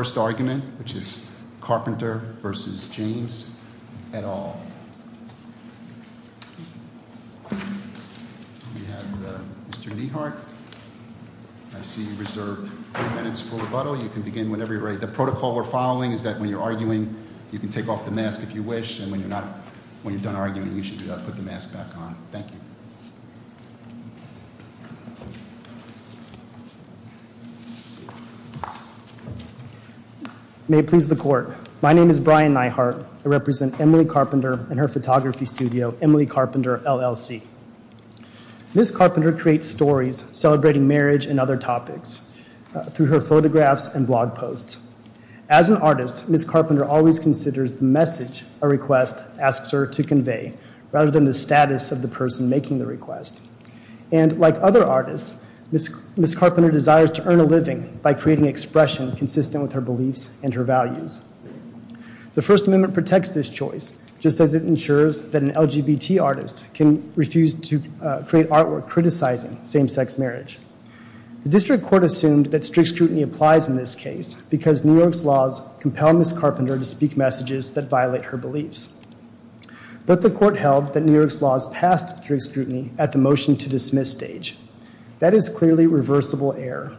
at all. We have Mr. Nehart. I see you reserved three minutes for rebuttal. You can begin whenever you're ready. The protocol we're following is that when you're arguing, you can take off the mask if you wish, and when you're not, when you're done arguing, you should put the mask back on. Thank you. May it please the court. My name is Brian Nehart. I represent Emily Carpenter and her photography studio, Emily Carpenter, LLC. Ms. Carpenter creates stories celebrating marriage and other topics through her photographs and blog posts. As an artist, Ms. Carpenter always considers the message a request asks her to convey, rather than the status of the person making the request. And like other artists, Ms. Carpenter desires to earn a living by creating expression consistent with her beliefs and her values. The First Amendment protects this choice, just as it ensures that an LGBT artist can refuse to create artwork criticizing same-sex marriage. The district court assumed that strict scrutiny applies in this case because New York's laws compel Ms. Carpenter to speak messages that violate her beliefs. But the court held that New York's laws passed strict scrutiny at the motion-to-dismiss stage. That is clearly reversible error.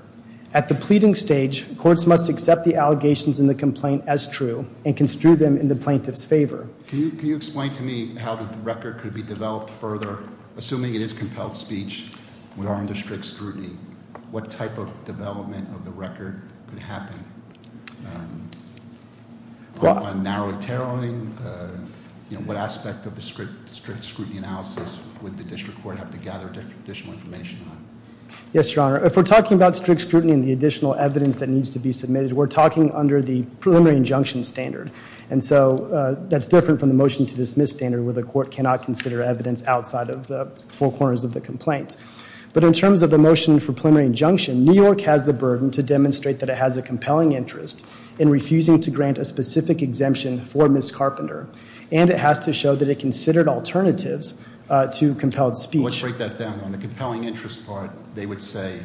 At the pleading stage, courts must accept the allegations in the complaint as true and construe them in the plaintiff's favor. Can you explain to me how the record could be developed further, assuming it is compelled speech, would arm the strict scrutiny? What type of development of the record could happen? Narrowly tailoring, you know, what aspect of the strict scrutiny analysis would the district court have to gather additional information on? Yes, Your Honor. If we're talking about strict scrutiny and the additional evidence that needs to be submitted, we're talking under the preliminary injunction standard. And so that's different from the motion-to-dismiss standard, where the court cannot consider evidence outside of the four corners of the complaint. But in terms of the motion for preliminary injunction, New York has the burden to demonstrate that it has a compelling interest in refusing to grant a specific exemption for Ms. Carpenter. And it has to show that it considered alternatives to compelled speech. Let's break that down. On the compelling interest part, they would say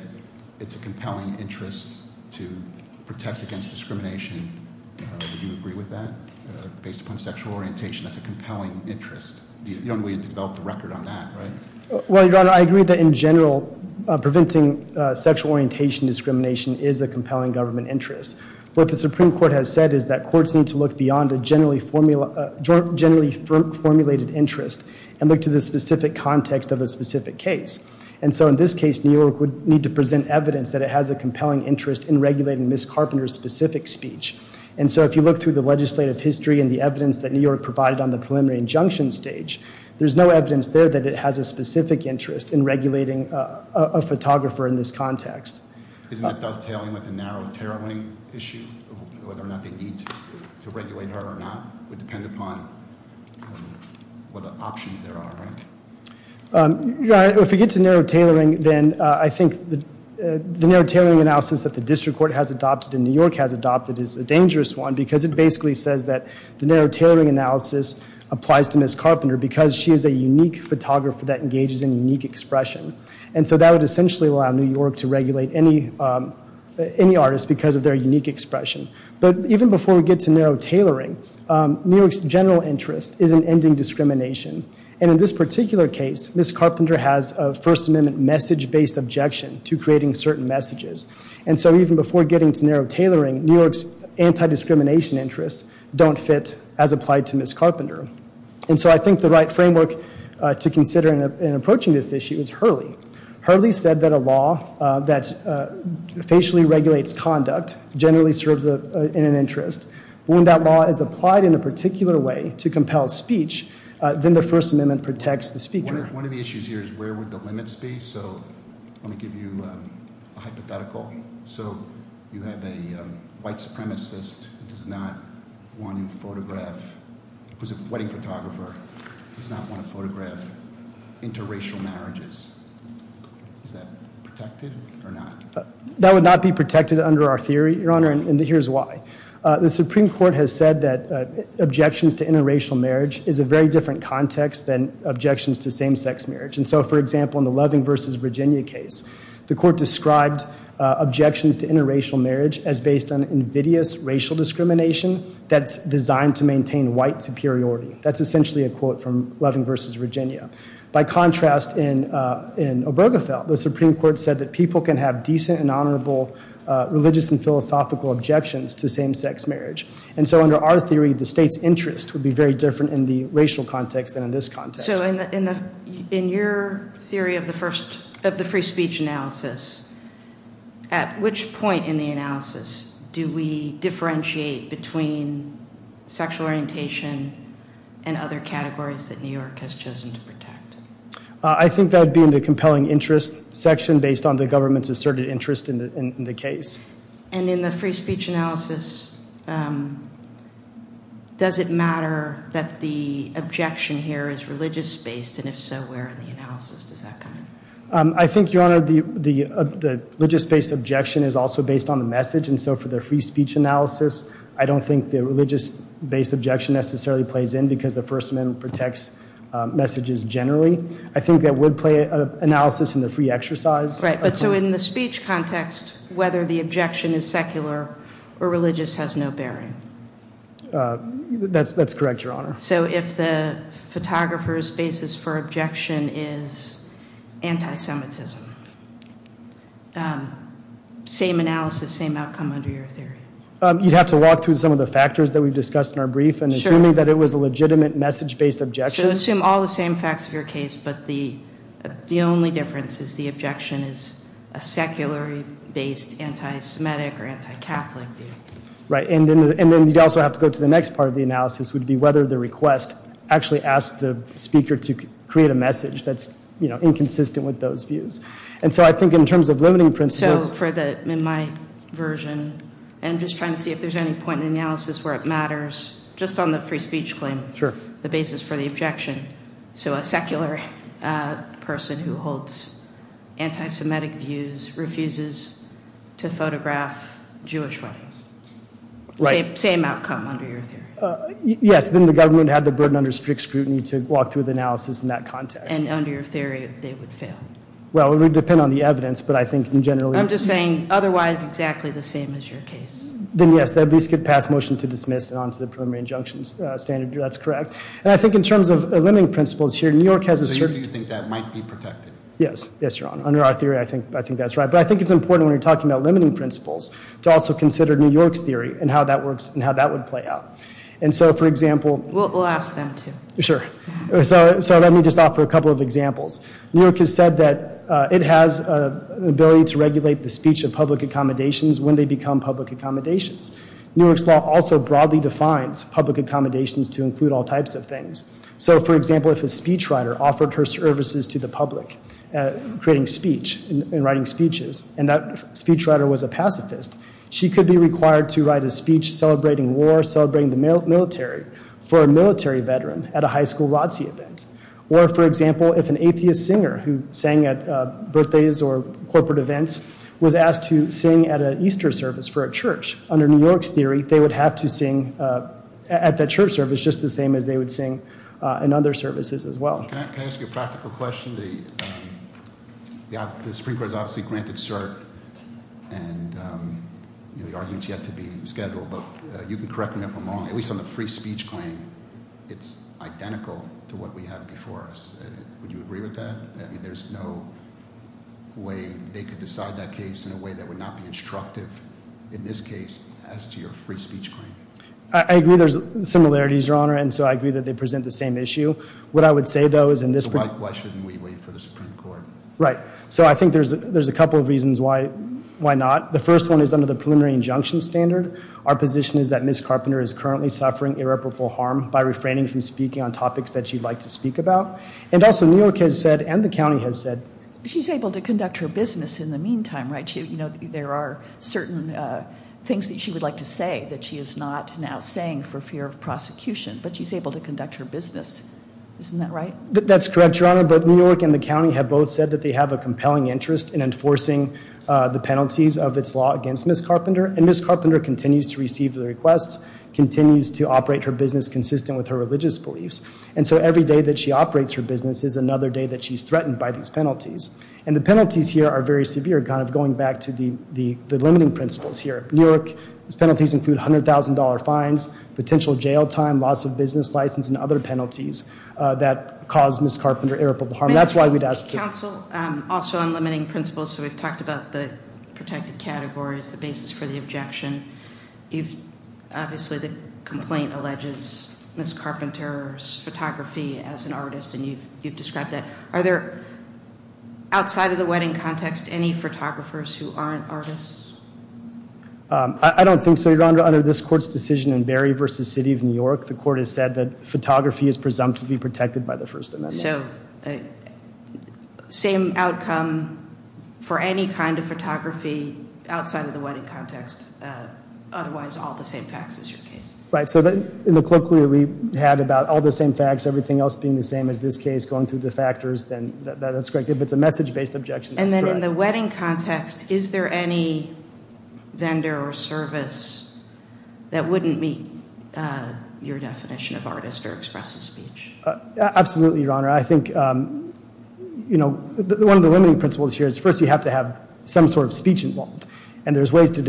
it's a compelling interest to protect against discrimination. Do you agree with that? Based upon sexual orientation, that's a compelling interest. You don't really develop the record on that, right? Well, Your Honor, I agree that in general, preventing sexual orientation discrimination is a compelling government interest. What the Supreme Court has said is that courts need to look beyond a generally formulated interest and look to the specific context of a specific case. And so in this case, New York would need to present evidence that it has a compelling interest in regulating Ms. Carpenter's specific speech. And so if you look through the legislative history and the evidence that New York provided on the preliminary injunction stage, there's no evidence there that it has a specific interest in regulating a photographer in this context. Isn't that dovetailing with the narrow tailoring issue? Whether or not they need to regulate her or not would depend upon what the options there are, right? Your Honor, if we get to narrow tailoring, then I think the narrow tailoring analysis that the district court has adopted and New York has adopted is a dangerous one because it basically says that the narrow tailoring analysis applies to Ms. Carpenter because she is a unique photographer that engages in unique expression. And so that would essentially allow New York to regulate any artist because of their unique expression. But even before we get to narrow tailoring, New York's general interest is in ending discrimination. And in this particular case, Ms. Carpenter has a First Amendment message-based objection to creating certain messages. And so even before getting to narrow tailoring, New York's anti-discrimination interests don't fit as applied to Ms. Carpenter. And so I think the right framework to consider in approaching this issue is Hurley. Hurley said that a law that facially regulates conduct generally serves in an interest. When that law is applied in a particular way to compel speech, then the First Amendment protects the speaker. One of the issues here is where would the limits be? So let me give you a hypothetical. So you have a white supremacist who does not want to photograph, who's a wedding photographer, does not want to photograph interracial marriages. Is that protected or not? That would not be protected under our theory, Your Honor, and here's why. The Supreme Court has said that objections to interracial marriage is a very different context than objections to same-sex marriage. And so, for example, in the Loving v. Virginia case, the court described objections to interracial marriage as based on invidious racial discrimination that's designed to maintain white superiority. That's essentially a quote from Loving v. Virginia. By contrast, in Obergefell, the Supreme Court said that people can have decent and honorable religious and philosophical objections to same-sex marriage. And so under our theory, the state's interest would be very different in the racial context than in this context. So in your theory of the free speech analysis, at which point in the analysis do we differentiate between sexual orientation and other categories that New York has chosen to protect? I think that would be in the compelling interest section based on the government's asserted interest in the case. And in the free speech analysis, does it matter that the objection here is religious-based? And if so, where in the analysis does that come in? I think, Your Honor, the religious-based objection is also based on the message. And so for the free speech analysis, I don't think the religious-based objection necessarily plays in because the First Amendment protects messages generally. I think that would play an analysis in the free exercise. Right. But so in the speech context, whether the objection is secular or religious has no bearing. That's correct, Your Honor. So if the photographer's basis for objection is anti-Semitism, same analysis, same outcome under your theory? You'd have to walk through some of the factors that we've discussed in our brief. Sure. And assuming that it was a legitimate message-based objection. So assume all the same facts of your case, but the only difference is the objection is a secular-based anti-Semitic or anti-Catholic view. Right. And then you'd also have to go to the next part of the analysis, which would be whether the request actually asked the speaker to create a message that's inconsistent with those views. And so I think in terms of limiting principles- So for my version, I'm just trying to see if there's any point in the analysis where it matters, just on the free speech claim. Sure. The basis for the objection, so a secular person who holds anti-Semitic views refuses to photograph Jewish weddings. Right. Same outcome under your theory. Yes, then the government had the burden under strict scrutiny to walk through the analysis in that context. And under your theory, they would fail. Well, it would depend on the evidence, but I think in general- I'm just saying otherwise exactly the same as your case. Then yes, they at least could pass motion to dismiss and onto the preliminary injunctions standard. That's correct. And I think in terms of limiting principles here, New York has a certain- So you think that might be protected? Yes. Yes, Your Honor. Under our theory, I think that's right. But I think it's important when you're talking about limiting principles to also consider New York's theory and how that works and how that would play out. And so, for example- We'll ask them to. Sure. So let me just offer a couple of examples. New York has said that it has an ability to regulate the speech of public accommodations when they become public accommodations. New York's law also broadly defines public accommodations to include all types of things. So, for example, if a speechwriter offered her services to the public, creating speech and writing speeches, and that speechwriter was a pacifist, she could be required to write a speech celebrating war, celebrating the military, for a military veteran at a high school ROTC event. Or, for example, if an atheist singer who sang at birthdays or corporate events was asked to sing at an Easter service for a church, under New York's theory, they would have to sing at that church service just the same as they would sing in other services as well. Can I ask you a practical question? The Supreme Court has obviously granted cert, and the argument's yet to be scheduled, but you can correct me if I'm wrong. At least on the free speech claim, it's identical to what we have before us. Would you agree with that? I mean, there's no way they could decide that case in a way that would not be instructive, in this case, as to your free speech claim. I agree there's similarities, Your Honor, and so I agree that they present the same issue. What I would say, though, is in this- Why shouldn't we wait for the Supreme Court? Right, so I think there's a couple of reasons why not. The first one is under the preliminary injunction standard. Our position is that Ms. Carpenter is currently suffering irreparable harm by refraining from speaking on topics that she'd like to speak about. And also, New York has said, and the county has said- She's able to conduct her business in the meantime, right? There are certain things that she would like to say that she is not now saying for fear of prosecution, but she's able to conduct her business. Isn't that right? That's correct, Your Honor. Both New York and the county have both said that they have a compelling interest in enforcing the penalties of its law against Ms. Carpenter. And Ms. Carpenter continues to receive the requests, continues to operate her business consistent with her religious beliefs. And so every day that she operates her business is another day that she's threatened by these penalties. And the penalties here are very severe, kind of going back to the limiting principles here. New York's penalties include $100,000 fines, potential jail time, loss of business license, and other penalties that cause Ms. Carpenter irreparable harm. That's why we'd ask- Counsel, also on limiting principles, so we've talked about the protected categories, the basis for the objection. Obviously, the complaint alleges Ms. Carpenter's photography as an artist, and you've described that. Are there, outside of the wedding context, any photographers who aren't artists? I don't think so, Your Honor. Under this court's decision in Berry v. City of New York, the court has said that photography is presumptively protected by the First Amendment. So, same outcome for any kind of photography outside of the wedding context, otherwise all the same facts as your case? Right, so in the colloquy we had about all the same facts, everything else being the same as this case, going through the factors, then that's correct. If it's a message-based objection, that's correct. And then in the wedding context, is there any vendor or service that wouldn't meet your definition of artist or expressive speech? Absolutely, Your Honor. I think, you know, one of the limiting principles here is first you have to have some sort of speech involved. So just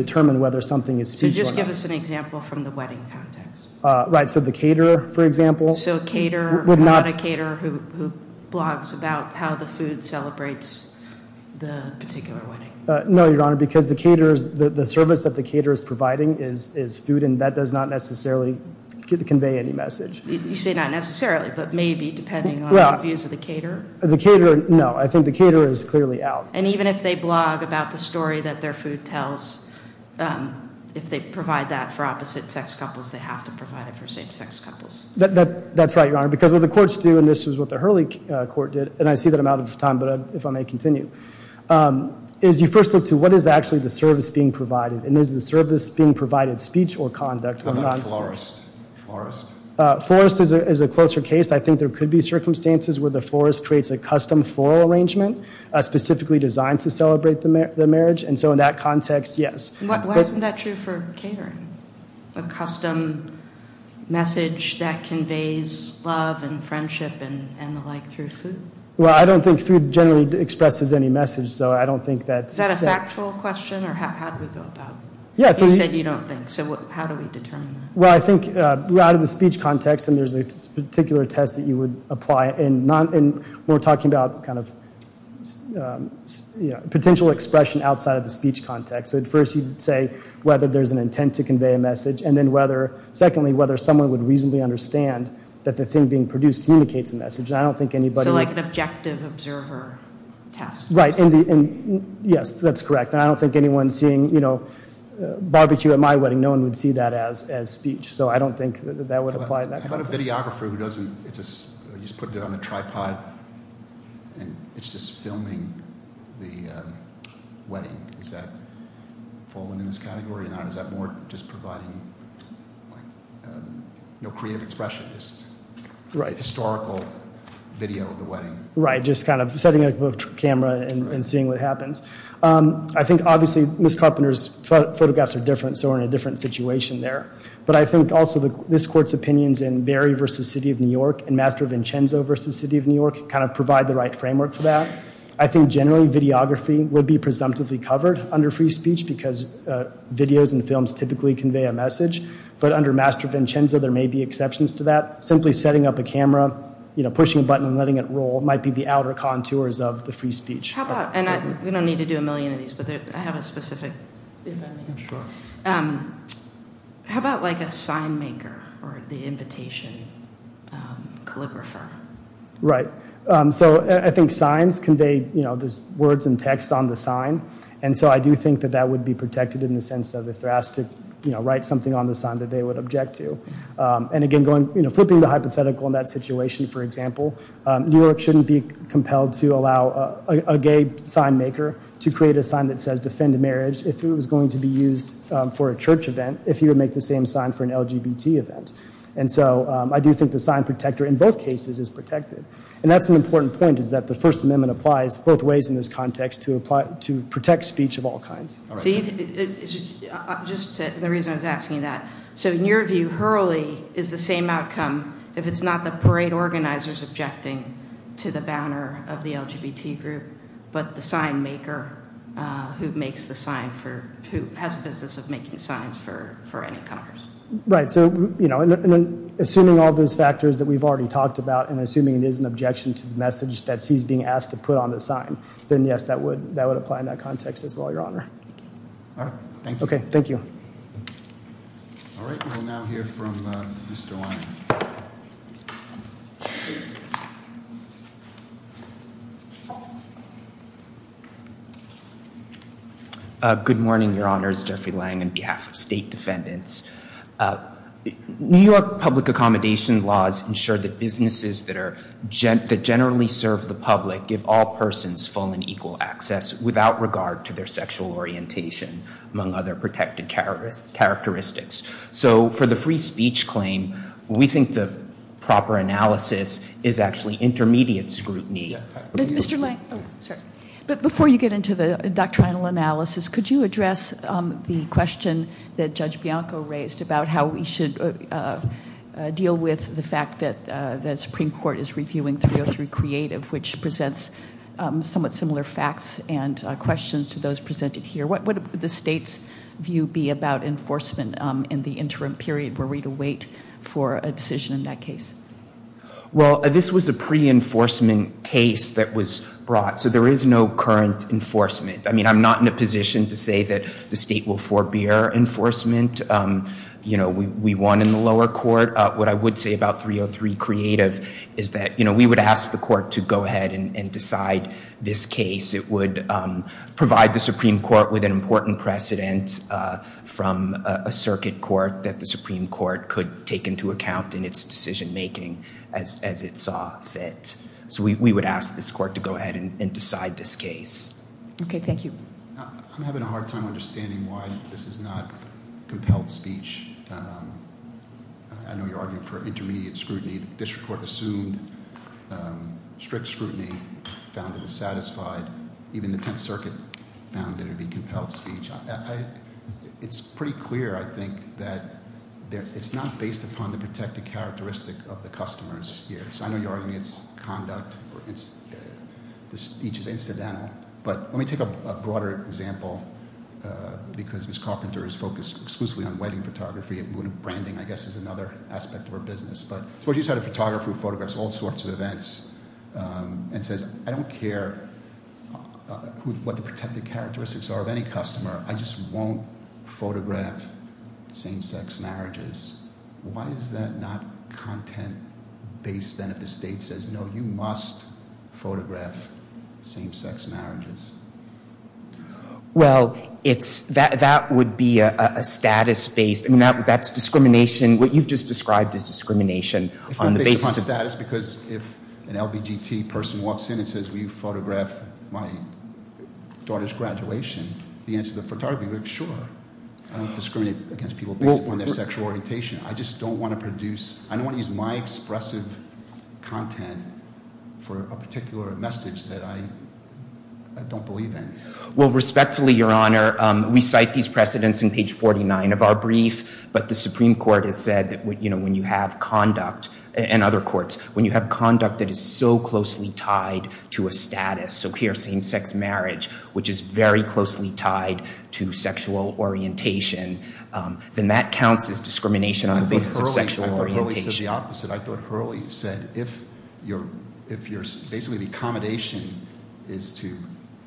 give us an example from the wedding context. Right, so the caterer, for example. So a caterer, not a caterer who blogs about how the food celebrates the particular wedding. No, Your Honor, because the service that the caterer is providing is food, and that does not necessarily convey any message. You say not necessarily, but maybe, depending on the views of the caterer? The caterer, no. I think the caterer is clearly out. And even if they blog about the story that their food tells, if they provide that for opposite-sex couples, they have to provide it for same-sex couples. That's right, Your Honor, because what the courts do, and this is what the Hurley court did, and I see that I'm out of time, but if I may continue, is you first look to what is actually the service being provided, and is the service being provided speech or conduct? How about florist? Florist is a closer case. I think there could be circumstances where the florist creates a custom floral arrangement specifically designed to celebrate the marriage, and so in that context, yes. Why isn't that true for catering? A custom message that conveys love and friendship and the like through food? Well, I don't think food generally expresses any message, so I don't think that— Is that a factual question, or how do we go about it? You said you don't think, so how do we determine that? Well, I think out of the speech context, and there's a particular test that you would apply, and we're talking about kind of potential expression outside of the speech context. At first, you'd say whether there's an intent to convey a message, and then secondly, whether someone would reasonably understand that the thing being produced communicates a message, and I don't think anybody— So like an objective observer test? Yes, that's correct, and I don't think anyone seeing barbecue at my wedding, no one would see that as speech, so I don't think that would apply in that context. How about a videographer who just puts it on a tripod, and it's just filming the wedding? Does that fall within this category or not? Is that more just providing no creative expression, just historical video of the wedding? Right, just kind of setting up a camera and seeing what happens. I think obviously Ms. Carpenter's photographs are different, so we're in a different situation there, but I think also this court's opinions in Berry v. City of New York and Master Vincenzo v. City of New York kind of provide the right framework for that. I think generally videography would be presumptively covered under free speech because videos and films typically convey a message, but under Master Vincenzo, there may be exceptions to that. Simply setting up a camera, pushing a button and letting it roll might be the outer contours of the free speech. How about—and we don't need to do a million of these, but I have a specific— Sure. How about like a sign maker or the invitation calligrapher? Right, so I think signs convey words and text on the sign, and so I do think that that would be protected in the sense of if they're asked to write something on the sign that they would object to. And again, flipping the hypothetical in that situation, for example, New York shouldn't be compelled to allow a gay sign maker to create a sign that says defend marriage if it was going to be used for a church event if you would make the same sign for an LGBT event. And so I do think the sign protector in both cases is protected, and that's an important point is that the First Amendment applies both ways in this context to protect speech of all kinds. Just the reason I was asking that, so in your view Hurley is the same outcome if it's not the parade organizers objecting to the banner of the LGBT group, but the sign maker who makes the sign for—who has a business of making signs for any Congress? Right, so assuming all those factors that we've already talked about and assuming it is an objection to the message that he's being asked to put on the sign, then yes, that would apply in that context as well, Your Honor. All right, thank you. Okay, thank you. All right, we'll now hear from Mr. Lange. Good morning, Your Honors, Jeffrey Lange on behalf of state defendants. New York public accommodation laws ensure that businesses that generally serve the public give all persons full and equal access without regard to their sexual orientation, among other protected characteristics. So for the free speech claim, we think the proper analysis is actually intermediate scrutiny. Mr. Lange, before you get into the doctrinal analysis, could you address the question that Judge Bianco raised about how we should deal with the fact that the Supreme Court is reviewing 303 creative, which presents somewhat similar facts and questions to those presented here. What would the state's view be about enforcement in the interim period? Were we to wait for a decision in that case? Well, this was a pre-enforcement case that was brought, so there is no current enforcement. I mean, I'm not in a position to say that the state will forbear enforcement. You know, we won in the lower court. What I would say about 303 creative is that, you know, we would ask the court to go ahead and decide this case. It would provide the Supreme Court with an important precedent from a circuit court that the Supreme Court could take into account in its decision making as it saw fit. So we would ask this court to go ahead and decide this case. Okay, thank you. I'm having a hard time understanding why this is not compelled speech. I know you're arguing for intermediate scrutiny. The district court assumed strict scrutiny, found it dissatisfied. Even the Tenth Circuit found it to be compelled speech. It's pretty clear, I think, that it's not based upon the protected characteristic of the customers here. So I know you're arguing it's conduct or the speech is incidental. But let me take a broader example, because Ms. Carpenter is focused exclusively on wedding photography. Branding, I guess, is another aspect of her business. But suppose you had a photographer who photographs all sorts of events and says, I don't care what the protected characteristics are of any customer. I just won't photograph same-sex marriages. Why is that not content-based then if the state says, no, you must photograph same-sex marriages? Well, that would be a status-based, I mean, that's discrimination. What you've just described is discrimination on the basis of- It's not based upon status because if an LBGT person walks in and says, will you photograph my daughter's graduation? The answer to the photographer would be, sure. I don't discriminate against people based upon their sexual orientation. I just don't want to produce, I don't want to use my expressive content for a particular message that I don't believe in. Well, respectfully, Your Honor, we cite these precedents in page 49 of our brief. But the Supreme Court has said that when you have conduct, and other courts, when you have conduct that is so closely tied to a status, so here, same-sex marriage, which is very closely tied to sexual orientation, then that counts as discrimination on the basis of sexual orientation. I thought Hurley said the opposite. I thought Hurley said if you're, basically, the accommodation is to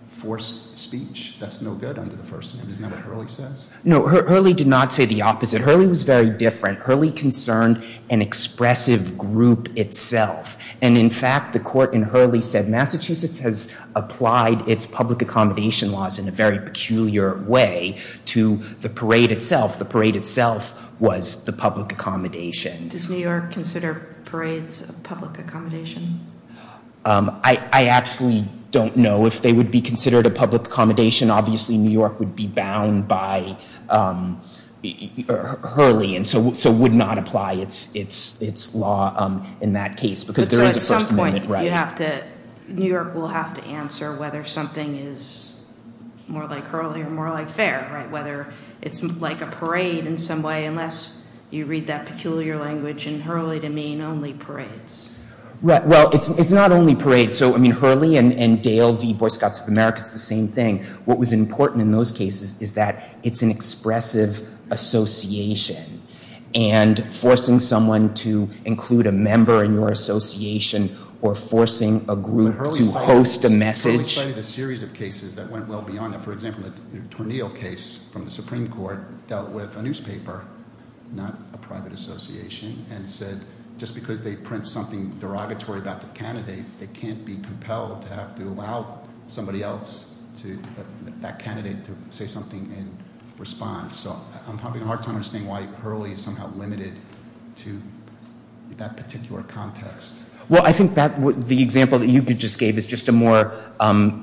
force speech, that's no good under the First Amendment. Isn't that what Hurley says? No, Hurley did not say the opposite. Hurley was very different. Hurley concerned an expressive group itself. And, in fact, the court in Hurley said Massachusetts has applied its public accommodation laws in a very peculiar way to the parade itself. The parade itself was the public accommodation. Does New York consider parades a public accommodation? I actually don't know if they would be considered a public accommodation. Obviously, New York would be bound by Hurley and so would not apply its law in that case. So, at some point, New York will have to answer whether something is more like Hurley or more like fair, whether it's like a parade in some way, unless you read that peculiar language in Hurley to mean only parades. Well, it's not only parades. So, I mean, Hurley and Dale v. Boy Scouts of America, it's the same thing. What was important in those cases is that it's an expressive association. And forcing someone to include a member in your association or forcing a group to post a message- But Hurley cited a series of cases that went well beyond that. For example, the Tornillo case from the Supreme Court dealt with a newspaper, not a private association, and said just because they print something derogatory about the candidate, they can't be compelled to have to allow somebody else, that candidate, to say something in response. So, I'm having a hard time understanding why Hurley is somehow limited to that particular context. Well, I think the example that you just gave is just a more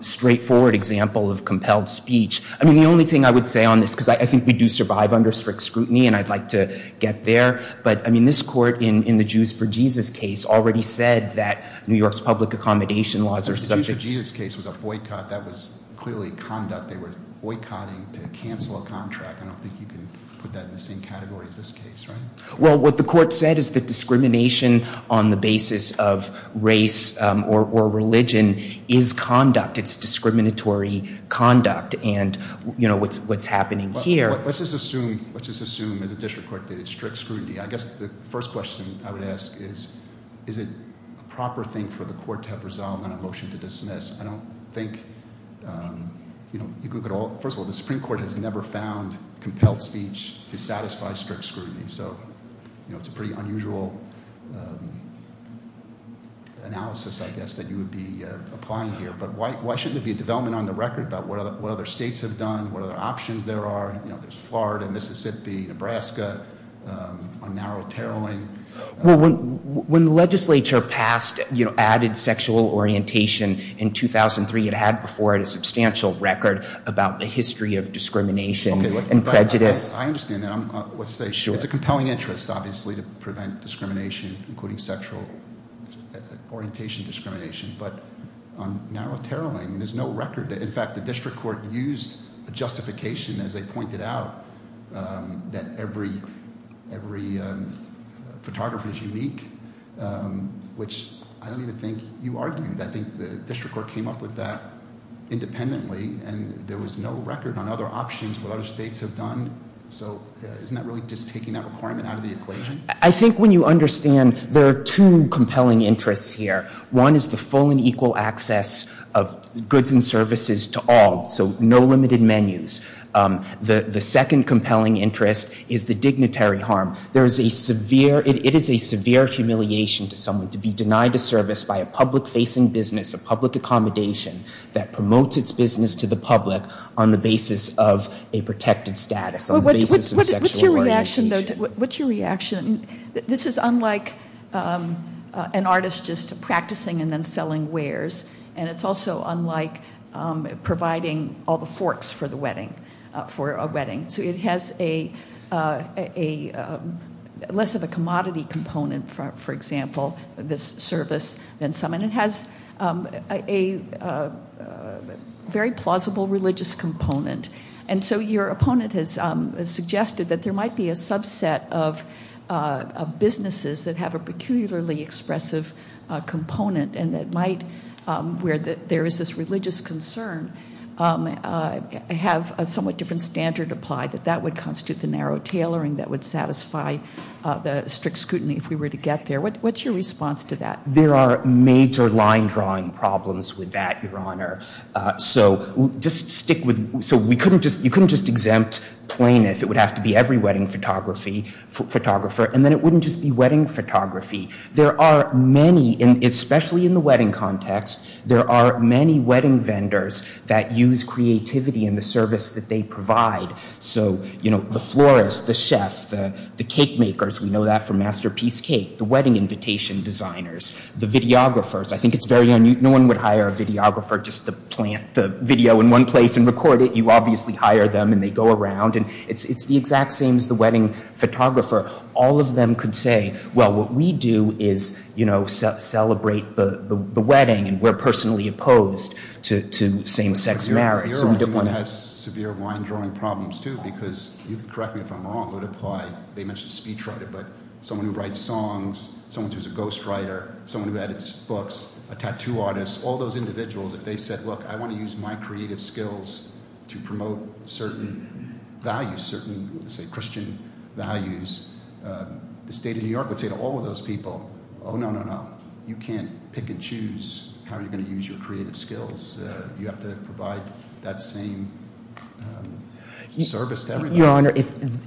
straightforward example of compelled speech. I mean, the only thing I would say on this, because I think we do survive under strict scrutiny and I'd like to get there, but, I mean, this court in the Jews for Jesus case already said that New York's public accommodation laws are subject- The Jews for Jesus case was a boycott. That was clearly conduct. They were boycotting to cancel a contract. I don't think you can put that in the same category as this case, right? Well, what the court said is that discrimination on the basis of race or religion is conduct. It's discriminatory conduct, and, you know, what's happening here- Let's just assume, as a district court, that it's strict scrutiny. I guess the first question I would ask is, is it a proper thing for the court to have resolved on a motion to dismiss? I don't think, you know, first of all, the Supreme Court has never found compelled speech to satisfy strict scrutiny. So, you know, it's a pretty unusual analysis, I guess, that you would be applying here. But why shouldn't there be a development on the record about what other states have done, what other options there are? You know, there's Florida, Mississippi, Nebraska, a narrow tarrowing. Well, when the legislature passed added sexual orientation in 2003, it had before it a substantial record about the history of discrimination and prejudice. I understand that. It's a compelling interest, obviously, to prevent discrimination, including sexual orientation discrimination. But on narrow tarrowing, there's no record. In fact, the district court used a justification, as they pointed out, that every photographer is unique, which I don't even think you argued. I think the district court came up with that independently, and there was no record on other options, what other states have done. So isn't that really just taking that requirement out of the equation? I think when you understand there are two compelling interests here. One is the full and equal access of goods and services to all, so no limited menus. The second compelling interest is the dignitary harm. It is a severe humiliation to someone to be denied a service by a public-facing business, a public accommodation that promotes its business to the public on the basis of a protected status, on the basis of sexual orientation. What's your reaction? This is unlike an artist just practicing and then selling wares, and it's also unlike providing all the forks for a wedding. So it has less of a commodity component, for example, this service, than some. And it has a very plausible religious component. And so your opponent has suggested that there might be a subset of businesses that have a peculiarly expressive component and that might, where there is this religious concern, have a somewhat different standard applied, that that would constitute the narrow tailoring that would satisfy the strict scrutiny if we were to get there. What's your response to that? There are major line-drawing problems with that, Your Honor. You couldn't just exempt plaintiff, it would have to be every wedding photographer, and then it wouldn't just be wedding photography. There are many, especially in the wedding context, there are many wedding vendors that use creativity in the service that they provide. So the florist, the chef, the cake makers, we know that from Masterpiece Cake, the wedding invitation designers, the videographers. I think it's very unusual. No one would hire a videographer just to plant the video in one place and record it. You obviously hire them, and they go around. And it's the exact same as the wedding photographer. All of them could say, well, what we do is, you know, celebrate the wedding, and we're personally opposed to same-sex marriage. Your opponent has severe line-drawing problems, too, because, correct me if I'm wrong, they mentioned speechwriter, but someone who writes songs, someone who's a ghostwriter, someone who edits books, a tattoo artist, all those individuals, if they said, look, I want to use my creative skills to promote certain values, certain Christian values, the state of New York would say to all of those people, oh, no, no, no, you can't pick and choose how you're going to use your creative skills.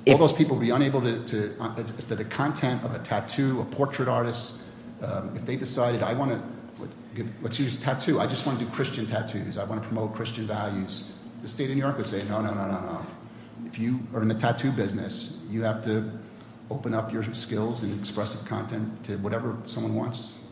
All those people would be unable to, the content of a tattoo, a portrait artist, if they decided, I want to, let's use tattoo, I just want to do Christian tattoos, I want to promote Christian values, the state of New York would say, no, no, no, no, if you are in the tattoo business, you have to open up your skills and expressive content to whatever someone wants,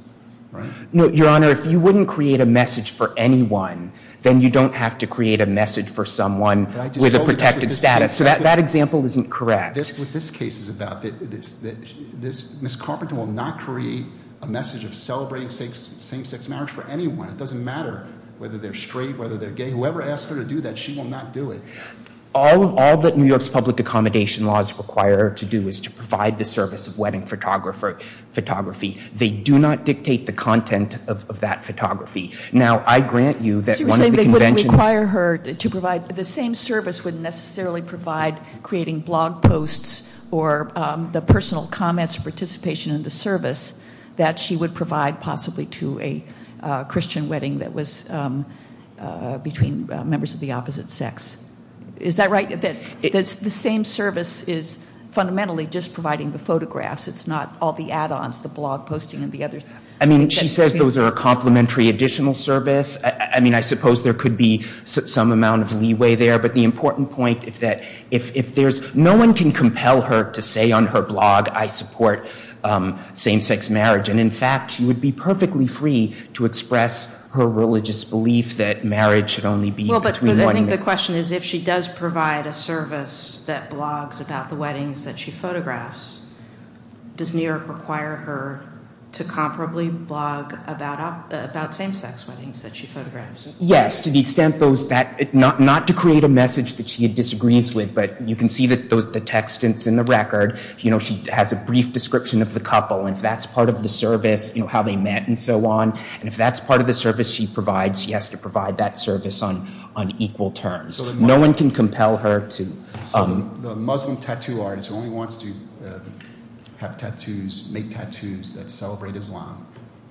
right? No, Your Honor, if you wouldn't create a message for anyone, then you don't have to create a message for someone with a protected status. Yes, so that example isn't correct. That's what this case is about. Ms. Carpenter will not create a message of celebrating same-sex marriage for anyone. It doesn't matter whether they're straight, whether they're gay. Whoever asks her to do that, she will not do it. All that New York's public accommodation laws require her to do is to provide the service of wedding photography. They do not dictate the content of that photography. Now, I grant you that one of the conventions... The same service wouldn't necessarily provide creating blog posts or the personal comments or participation in the service that she would provide possibly to a Christian wedding that was between members of the opposite sex. Is that right? The same service is fundamentally just providing the photographs. It's not all the add-ons, the blog posting and the other... I mean, she says those are a complementary additional service. I mean, I suppose there could be some amount of leeway there, but the important point is that if there's... No one can compel her to say on her blog, I support same-sex marriage, and in fact she would be perfectly free to express her religious belief that marriage should only be between one... Well, but I think the question is if she does provide a service that blogs about the weddings that she photographs, does New York require her to comparably blog about same-sex weddings that she photographs? Yes, to the extent those... Not to create a message that she disagrees with, but you can see the text in the record. She has a brief description of the couple, and if that's part of the service, how they met and so on, and if that's part of the service she provides, she has to provide that service on equal terms. No one can compel her to... So the Muslim tattoo artist who only wants to have tattoos, make tattoos that celebrate Islam,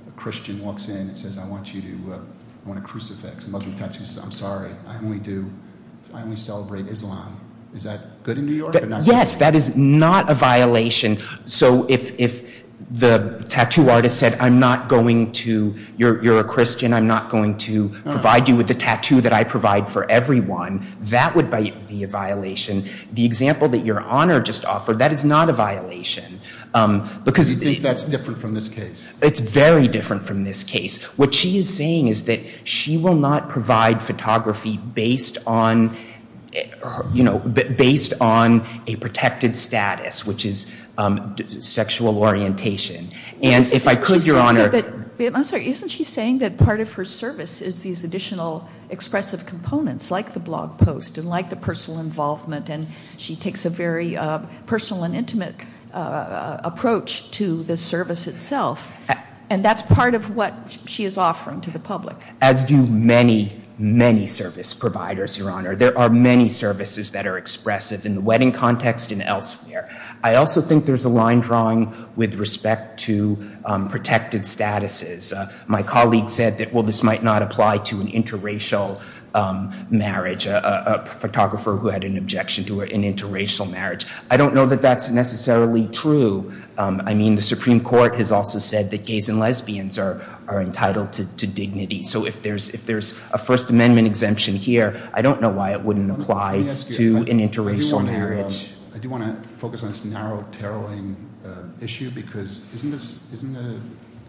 a Christian walks in and says, I want you to... I want a crucifix. A Muslim tattooist says, I'm sorry, I only do... I only celebrate Islam. Is that good in New York? Yes, that is not a violation. So if the tattoo artist said, I'm not going to... You're a Christian, I'm not going to provide you with a tattoo that I provide for everyone, that would be a violation. The example that Your Honor just offered, that is not a violation, because... You think that's different from this case? It's very different from this case. What she is saying is that she will not provide photography based on, you know, based on a protected status, which is sexual orientation. And if I could, Your Honor... I'm sorry, isn't she saying that part of her service is these additional expressive components, like the blog post and like the personal involvement, and she takes a very personal and intimate approach to the service itself. And that's part of what she is offering to the public. As do many, many service providers, Your Honor. There are many services that are expressive in the wedding context and elsewhere. I also think there's a line drawing with respect to protected statuses. My colleague said that, well, this might not apply to an interracial marriage. A photographer who had an objection to an interracial marriage. I don't know that that's necessarily true. I mean, the Supreme Court has also said that gays and lesbians are entitled to dignity. So if there's a First Amendment exemption here, I don't know why it wouldn't apply to an interracial marriage. I do want to focus on this narrow, tarrowing issue, because isn't the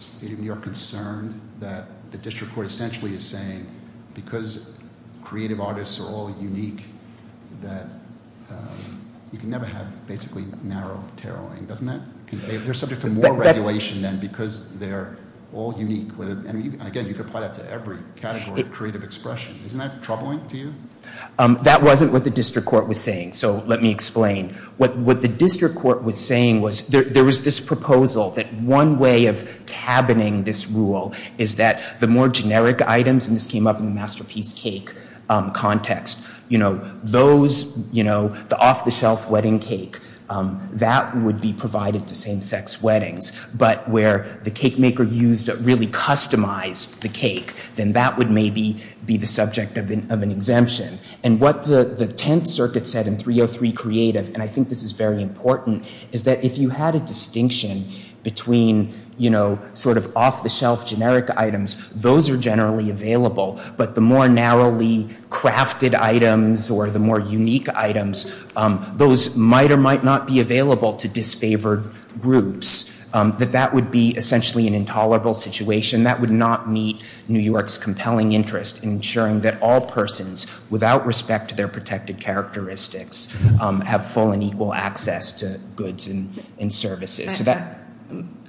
State of New York concerned that the district court essentially is saying, because creative artists are all unique, that you can never have basically narrow, tarrowing, doesn't that? They're subject to more regulation then because they're all unique. And again, you can apply that to every category of creative expression. Isn't that troubling to you? That wasn't what the district court was saying. So let me explain. What the district court was saying was, there was this proposal that one way of cabining this rule is that the more generic items, and this came up in the masterpiece cake context, you know, those, you know, the off-the-shelf wedding cake, that would be provided to same-sex weddings. But where the cake maker used really customized the cake, then that would maybe be the subject of an exemption. And what the Tenth Circuit said in 303 Creative, and I think this is very important, is that if you had a distinction between, you know, sort of off-the-shelf generic items, those are generally available. But the more narrowly crafted items, or the more unique items, those might or might not be available to disfavored groups. That that would be essentially an intolerable situation. That would not meet New York's compelling interest in ensuring that all persons, without respect to their protected characteristics, have full and equal access to goods and services.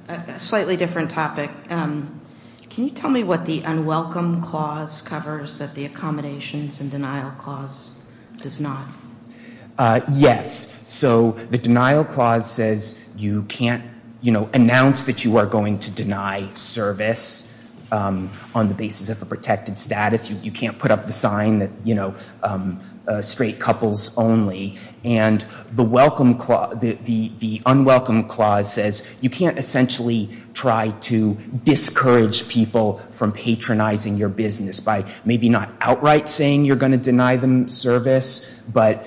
A slightly different topic. Can you tell me what the Unwelcome Clause covers that the Accommodations and Denial Clause does not? Yes. So the Denial Clause says you can't, you know, announce that you are going to deny service on the basis of a protected status. You can't put up the sign that, you know, straight couples only. And the Unwelcome Clause says you can't essentially try to discourage people from patronizing your business by maybe not outright saying you're going to deny them service, but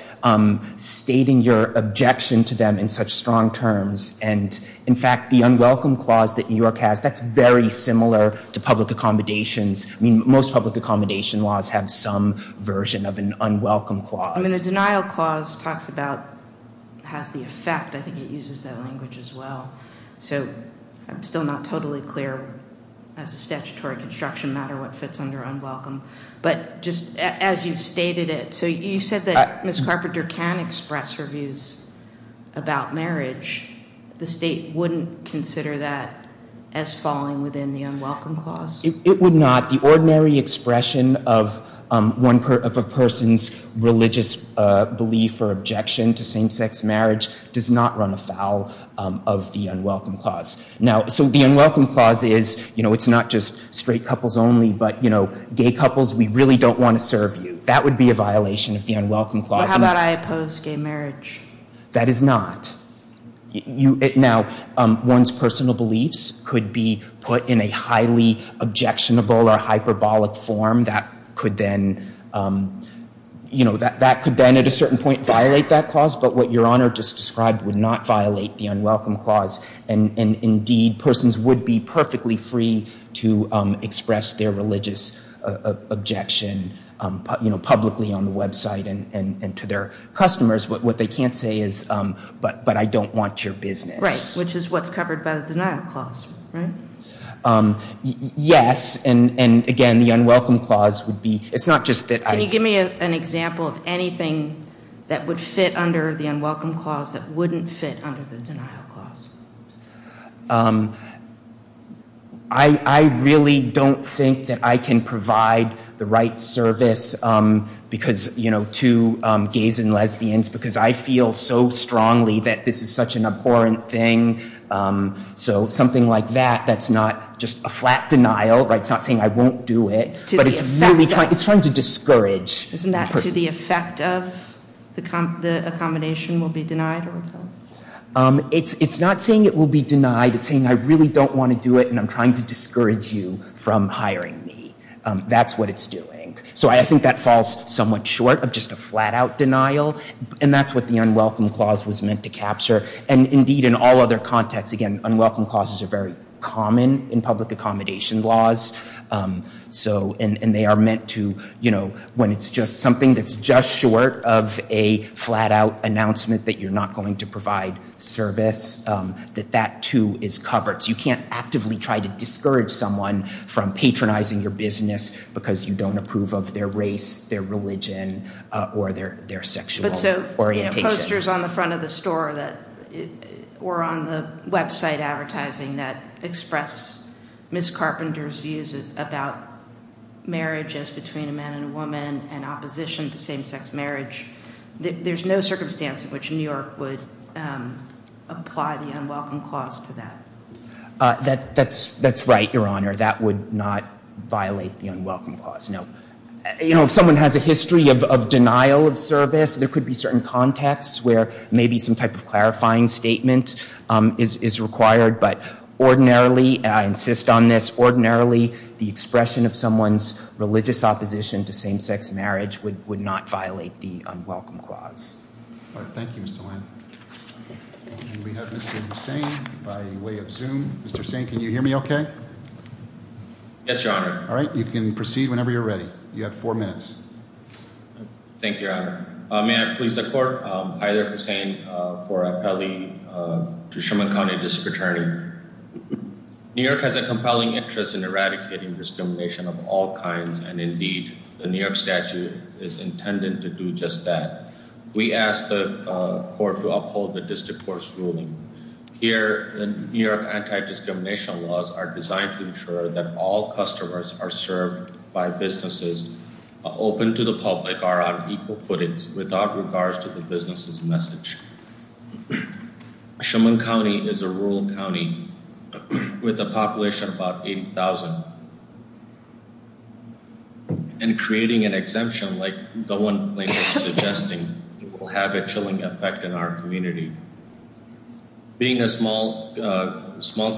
stating your objection to them in such strong terms. And, in fact, the Unwelcome Clause that New York has, that's very similar to public accommodations. I mean, most public accommodation laws have some version of an Unwelcome Clause. I mean, the Denial Clause talks about, has the effect, I think it uses that language as well. So I'm still not totally clear, as a statutory construction matter, what fits under Unwelcome. But just as you've stated it, so you said that Ms. Carpenter can express her views about marriage. The state wouldn't consider that as falling within the Unwelcome Clause? It would not. The ordinary expression of a person's religious belief or objection to same-sex marriage does not run afoul of the Unwelcome Clause. So the Unwelcome Clause is, it's not just straight couples only, but gay couples, we really don't want to serve you. That would be a violation of the Unwelcome Clause. Well, how about I oppose gay marriage? That is not. Now, one's personal beliefs could be put in a highly objectionable or hyperbolic form and that could then at a certain point violate that clause. But what Your Honor just described would not violate the Unwelcome Clause. And indeed, persons would be perfectly free to express their religious objection publicly on the website and to their customers. What they can't say is, but I don't want your business. Right, which is what's covered by the denial clause, right? Yes, and again, the Unwelcome Clause would be, it's not just that I... Can you give me an example of anything that would fit under the Unwelcome Clause that wouldn't fit under the denial clause? I really don't think that I can provide the right service because, you know, to gays and lesbians because I feel so strongly that this is such an abhorrent thing. So something like that, that's not just a flat denial, right? It's not saying I won't do it. It's trying to discourage. Isn't that to the effect of the accommodation will be denied? It's not saying it will be denied. It's saying I really don't want to do it and I'm trying to discourage you from hiring me. That's what it's doing. So I think that falls somewhat short of just a flat out denial. And that's what the Unwelcome Clause was meant to capture. And indeed, in all other contexts, again, Unwelcome Clauses are very common in public accommodation laws. And they are meant to, you know, when it's just something that's just short of a flat out announcement that you're not going to provide service, that that too is covered. So you can't actively try to discourage someone from patronizing your business because you don't approve of their race, their religion, or their sexual orientation. But so, you know, posters on the front of the store or on the website advertising that express Ms. Carpenter's views about marriage as between a man and a woman and opposition to same-sex marriage, there's no circumstance in which New York would apply the Unwelcome Clause to that. That's right, Your Honor. That would not violate the Unwelcome Clause. Now, you know, if someone has a history of denial of service, there could be certain contexts where maybe some type of clarifying statement is required. But ordinarily, and I insist on this, ordinarily the expression of someone's religious opposition to same-sex marriage would not violate the Unwelcome Clause. Thank you, Mr. Lane. We have Mr. Hussain by way of Zoom. Mr. Hussain, can you hear me okay? Yes, Your Honor. All right, you can proceed whenever you're ready. You have four minutes. Thank you, Your Honor. May I please the Court? Hi there, Hussain. For appellee to Sherman County District Attorney. New York has a compelling interest in eradicating discrimination of all kinds, and indeed, the New York statute is intended to do just that. We ask the Court to uphold the district court's ruling. Here, the New York anti-discrimination laws are designed to ensure that all customers are served by businesses and businesses open to the public are on equal footage without regards to the business's message. Sherman County is a rural county with a population of about 80,000, and creating an exemption like the one Lane was suggesting will have a chilling effect in our community. Being a small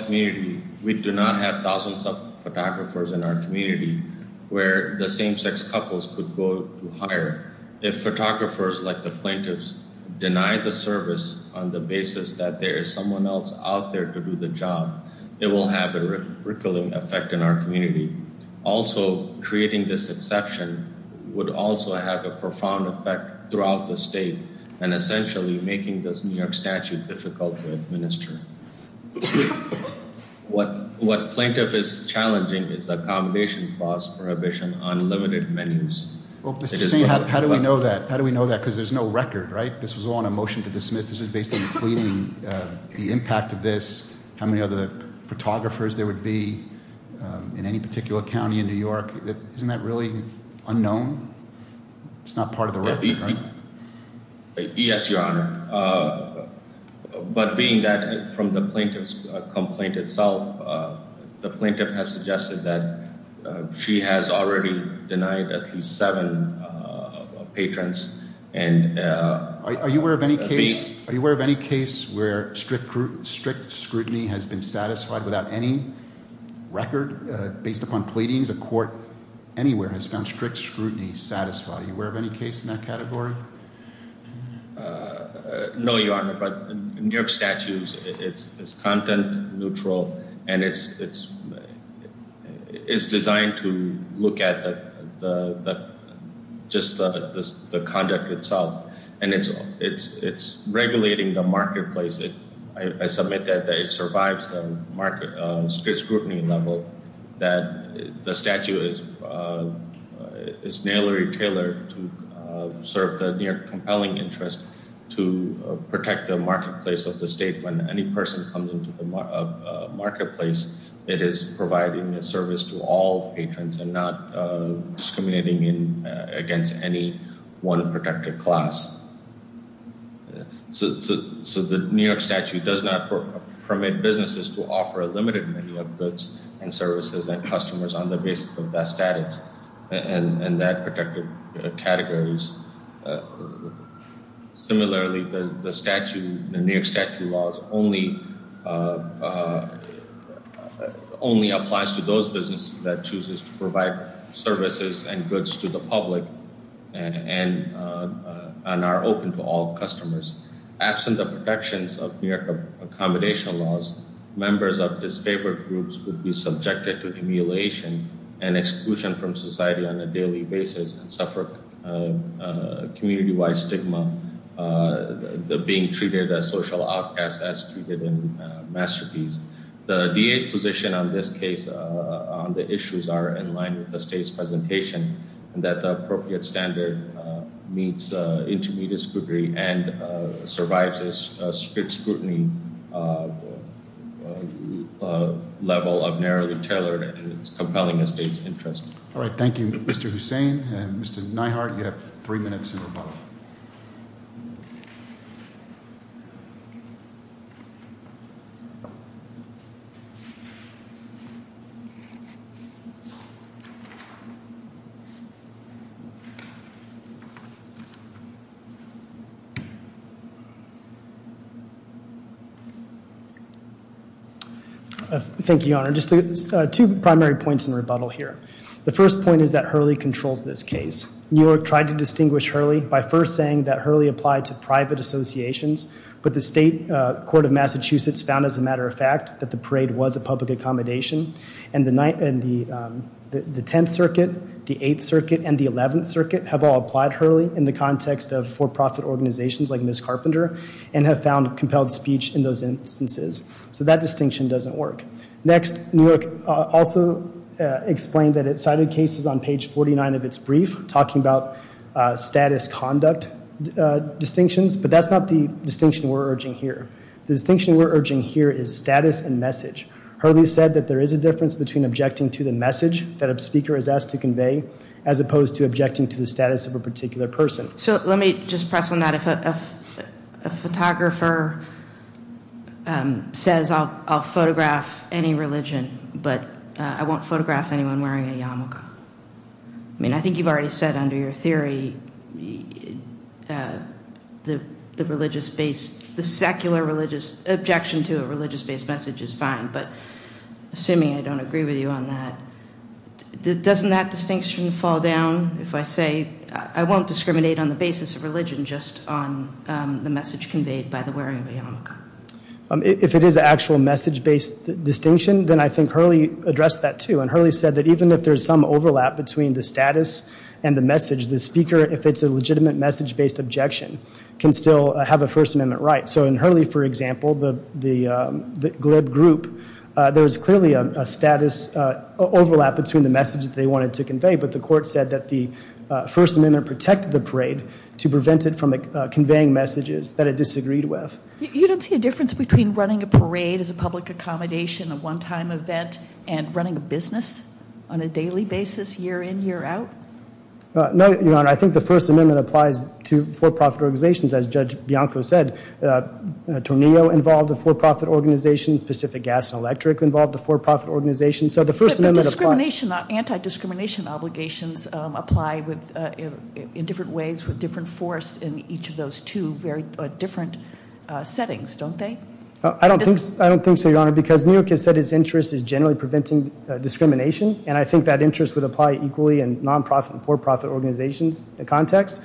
community, we do not have thousands of photographers in our community where the same-sex couples could go to hire. If photographers like the plaintiffs deny the service on the basis that there is someone else out there to do the job, it will have a rickling effect in our community. Also, creating this exception would also have a profound effect throughout the state and essentially making this New York statute difficult to administer. What plaintiff is challenging is accommodation clause prohibition on limited menus. Well, Mr. Singh, how do we know that? How do we know that? Because there's no record, right? This was all on a motion to dismiss. This is basically including the impact of this, how many other photographers there would be in any particular county in New York. Isn't that really unknown? It's not part of the record, right? Yes, Your Honor. But being that from the plaintiff's complaint itself, the plaintiff has suggested that she has already denied at least 7 patrons. Are you aware of any case where strict scrutiny has been satisfied without any record based upon pleadings? A court anywhere has found strict scrutiny satisfied. Are you aware of any case in that category? No, Your Honor, but New York statute is content-neutral and it's designed to look at just the conduct itself, and it's regulating the marketplace. I submit that it survives the strict scrutiny level, that the statute is nailery tailored to serve the New York compelling interest to protect the marketplace of the state when any person comes into the marketplace, it is providing a service to all patrons and not discriminating against any one protected class. So the New York statute does not permit businesses to offer a limited menu of goods and services and customers on the basis of that status and that protected categories. Similarly, the New York statute laws only applies to those businesses that chooses to provide services and goods to the public and are open to all customers. Absent the protections of New York accommodation laws, members of disfavored groups would be subjected to humiliation and exclusion from society on a daily basis and suffer community-wide stigma. They're being treated as social outcasts as treated in masterpiece. The DA's position on this case, on the issues are in line with the state's presentation and that the appropriate standard meets intermediate scrutiny and survives a strict scrutiny level of narrowly tailored and compelling the state's interest. All right, thank you, Mr. Hussain. Mr. Neihardt, you have three minutes in rebuttal. Just two primary points in rebuttal here. The first point is that Hurley controls this case. New York tried to distinguish Hurley by first saying that Hurley applied to private associations, but the state court of Massachusetts found, as a matter of fact, that the parade was a public accommodation and the 10th Circuit, the 8th Circuit, and the 11th Circuit have all applied Hurley in the context of for-profit organizations like Ms. Carpenter and have found compelled speech in those instances. So that distinction doesn't work. Next, New York also explained that it cited cases on page 49 of its brief talking about status conduct distinctions, but that's not the distinction we're urging here. The distinction we're urging here is status and message. Hurley said that there is a difference between objecting to the message that a speaker is asked to convey as opposed to objecting to the status of a particular person. So let me just press on that. A photographer says I'll photograph any religion, but I won't photograph anyone wearing a yarmulke. I mean, I think you've already said under your theory the religious-based, the secular religious, objection to a religious-based message is fine, but assuming I don't agree with you on that, doesn't that distinction fall down if I say I won't discriminate on the basis of religion just on the message conveyed by the wearing of a yarmulke? If it is an actual message-based distinction, then I think Hurley addressed that, too. And Hurley said that even if there's some overlap between the status and the message, the speaker, if it's a legitimate message-based objection, can still have a First Amendment right. So in Hurley, for example, the GLIB group, there's clearly a status overlap between the message that they wanted to convey, but the court said that the First Amendment protected the parade to prevent it from conveying messages that it disagreed with. You don't see a difference between running a parade as a public accommodation, a one-time event, and running a business on a daily basis, year in, year out? No, Your Honor. I think the First Amendment applies to for-profit organizations. As Judge Bianco said, Tornillo involved a for-profit organization. Pacific Gas and Electric involved a for-profit organization. So the First Amendment applies. Anti-discrimination obligations apply in different ways, with different force in each of those two very different settings, don't they? I don't think so, Your Honor, because New York has said its interest is generally preventing discrimination, and I think that interest would apply equally in non-profit and for-profit organizations, the context.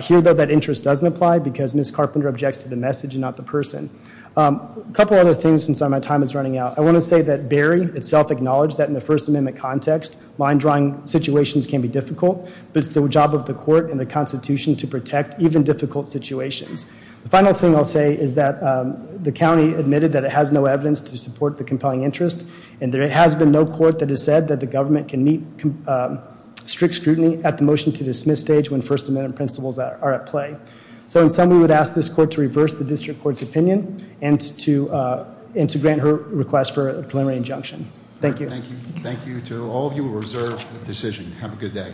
Here, though, that interest doesn't apply because Ms. Carpenter objects to the message and not the person. A couple other things since my time is running out. I want to say that Berry itself acknowledged that in the First Amendment context, mind-drawing situations can be difficult, but it's the job of the court and the Constitution to protect even difficult situations. The final thing I'll say is that the county admitted that it has no evidence to support the compelling interest, and there has been no court that has said that the government can meet strict scrutiny at the motion-to-dismiss stage when First Amendment principles are at play. So in sum, we would ask this court to reverse the district court's opinion and to grant her request for a preliminary injunction. Thank you. Thank you, too. All of you are reserved for decision. Have a good day.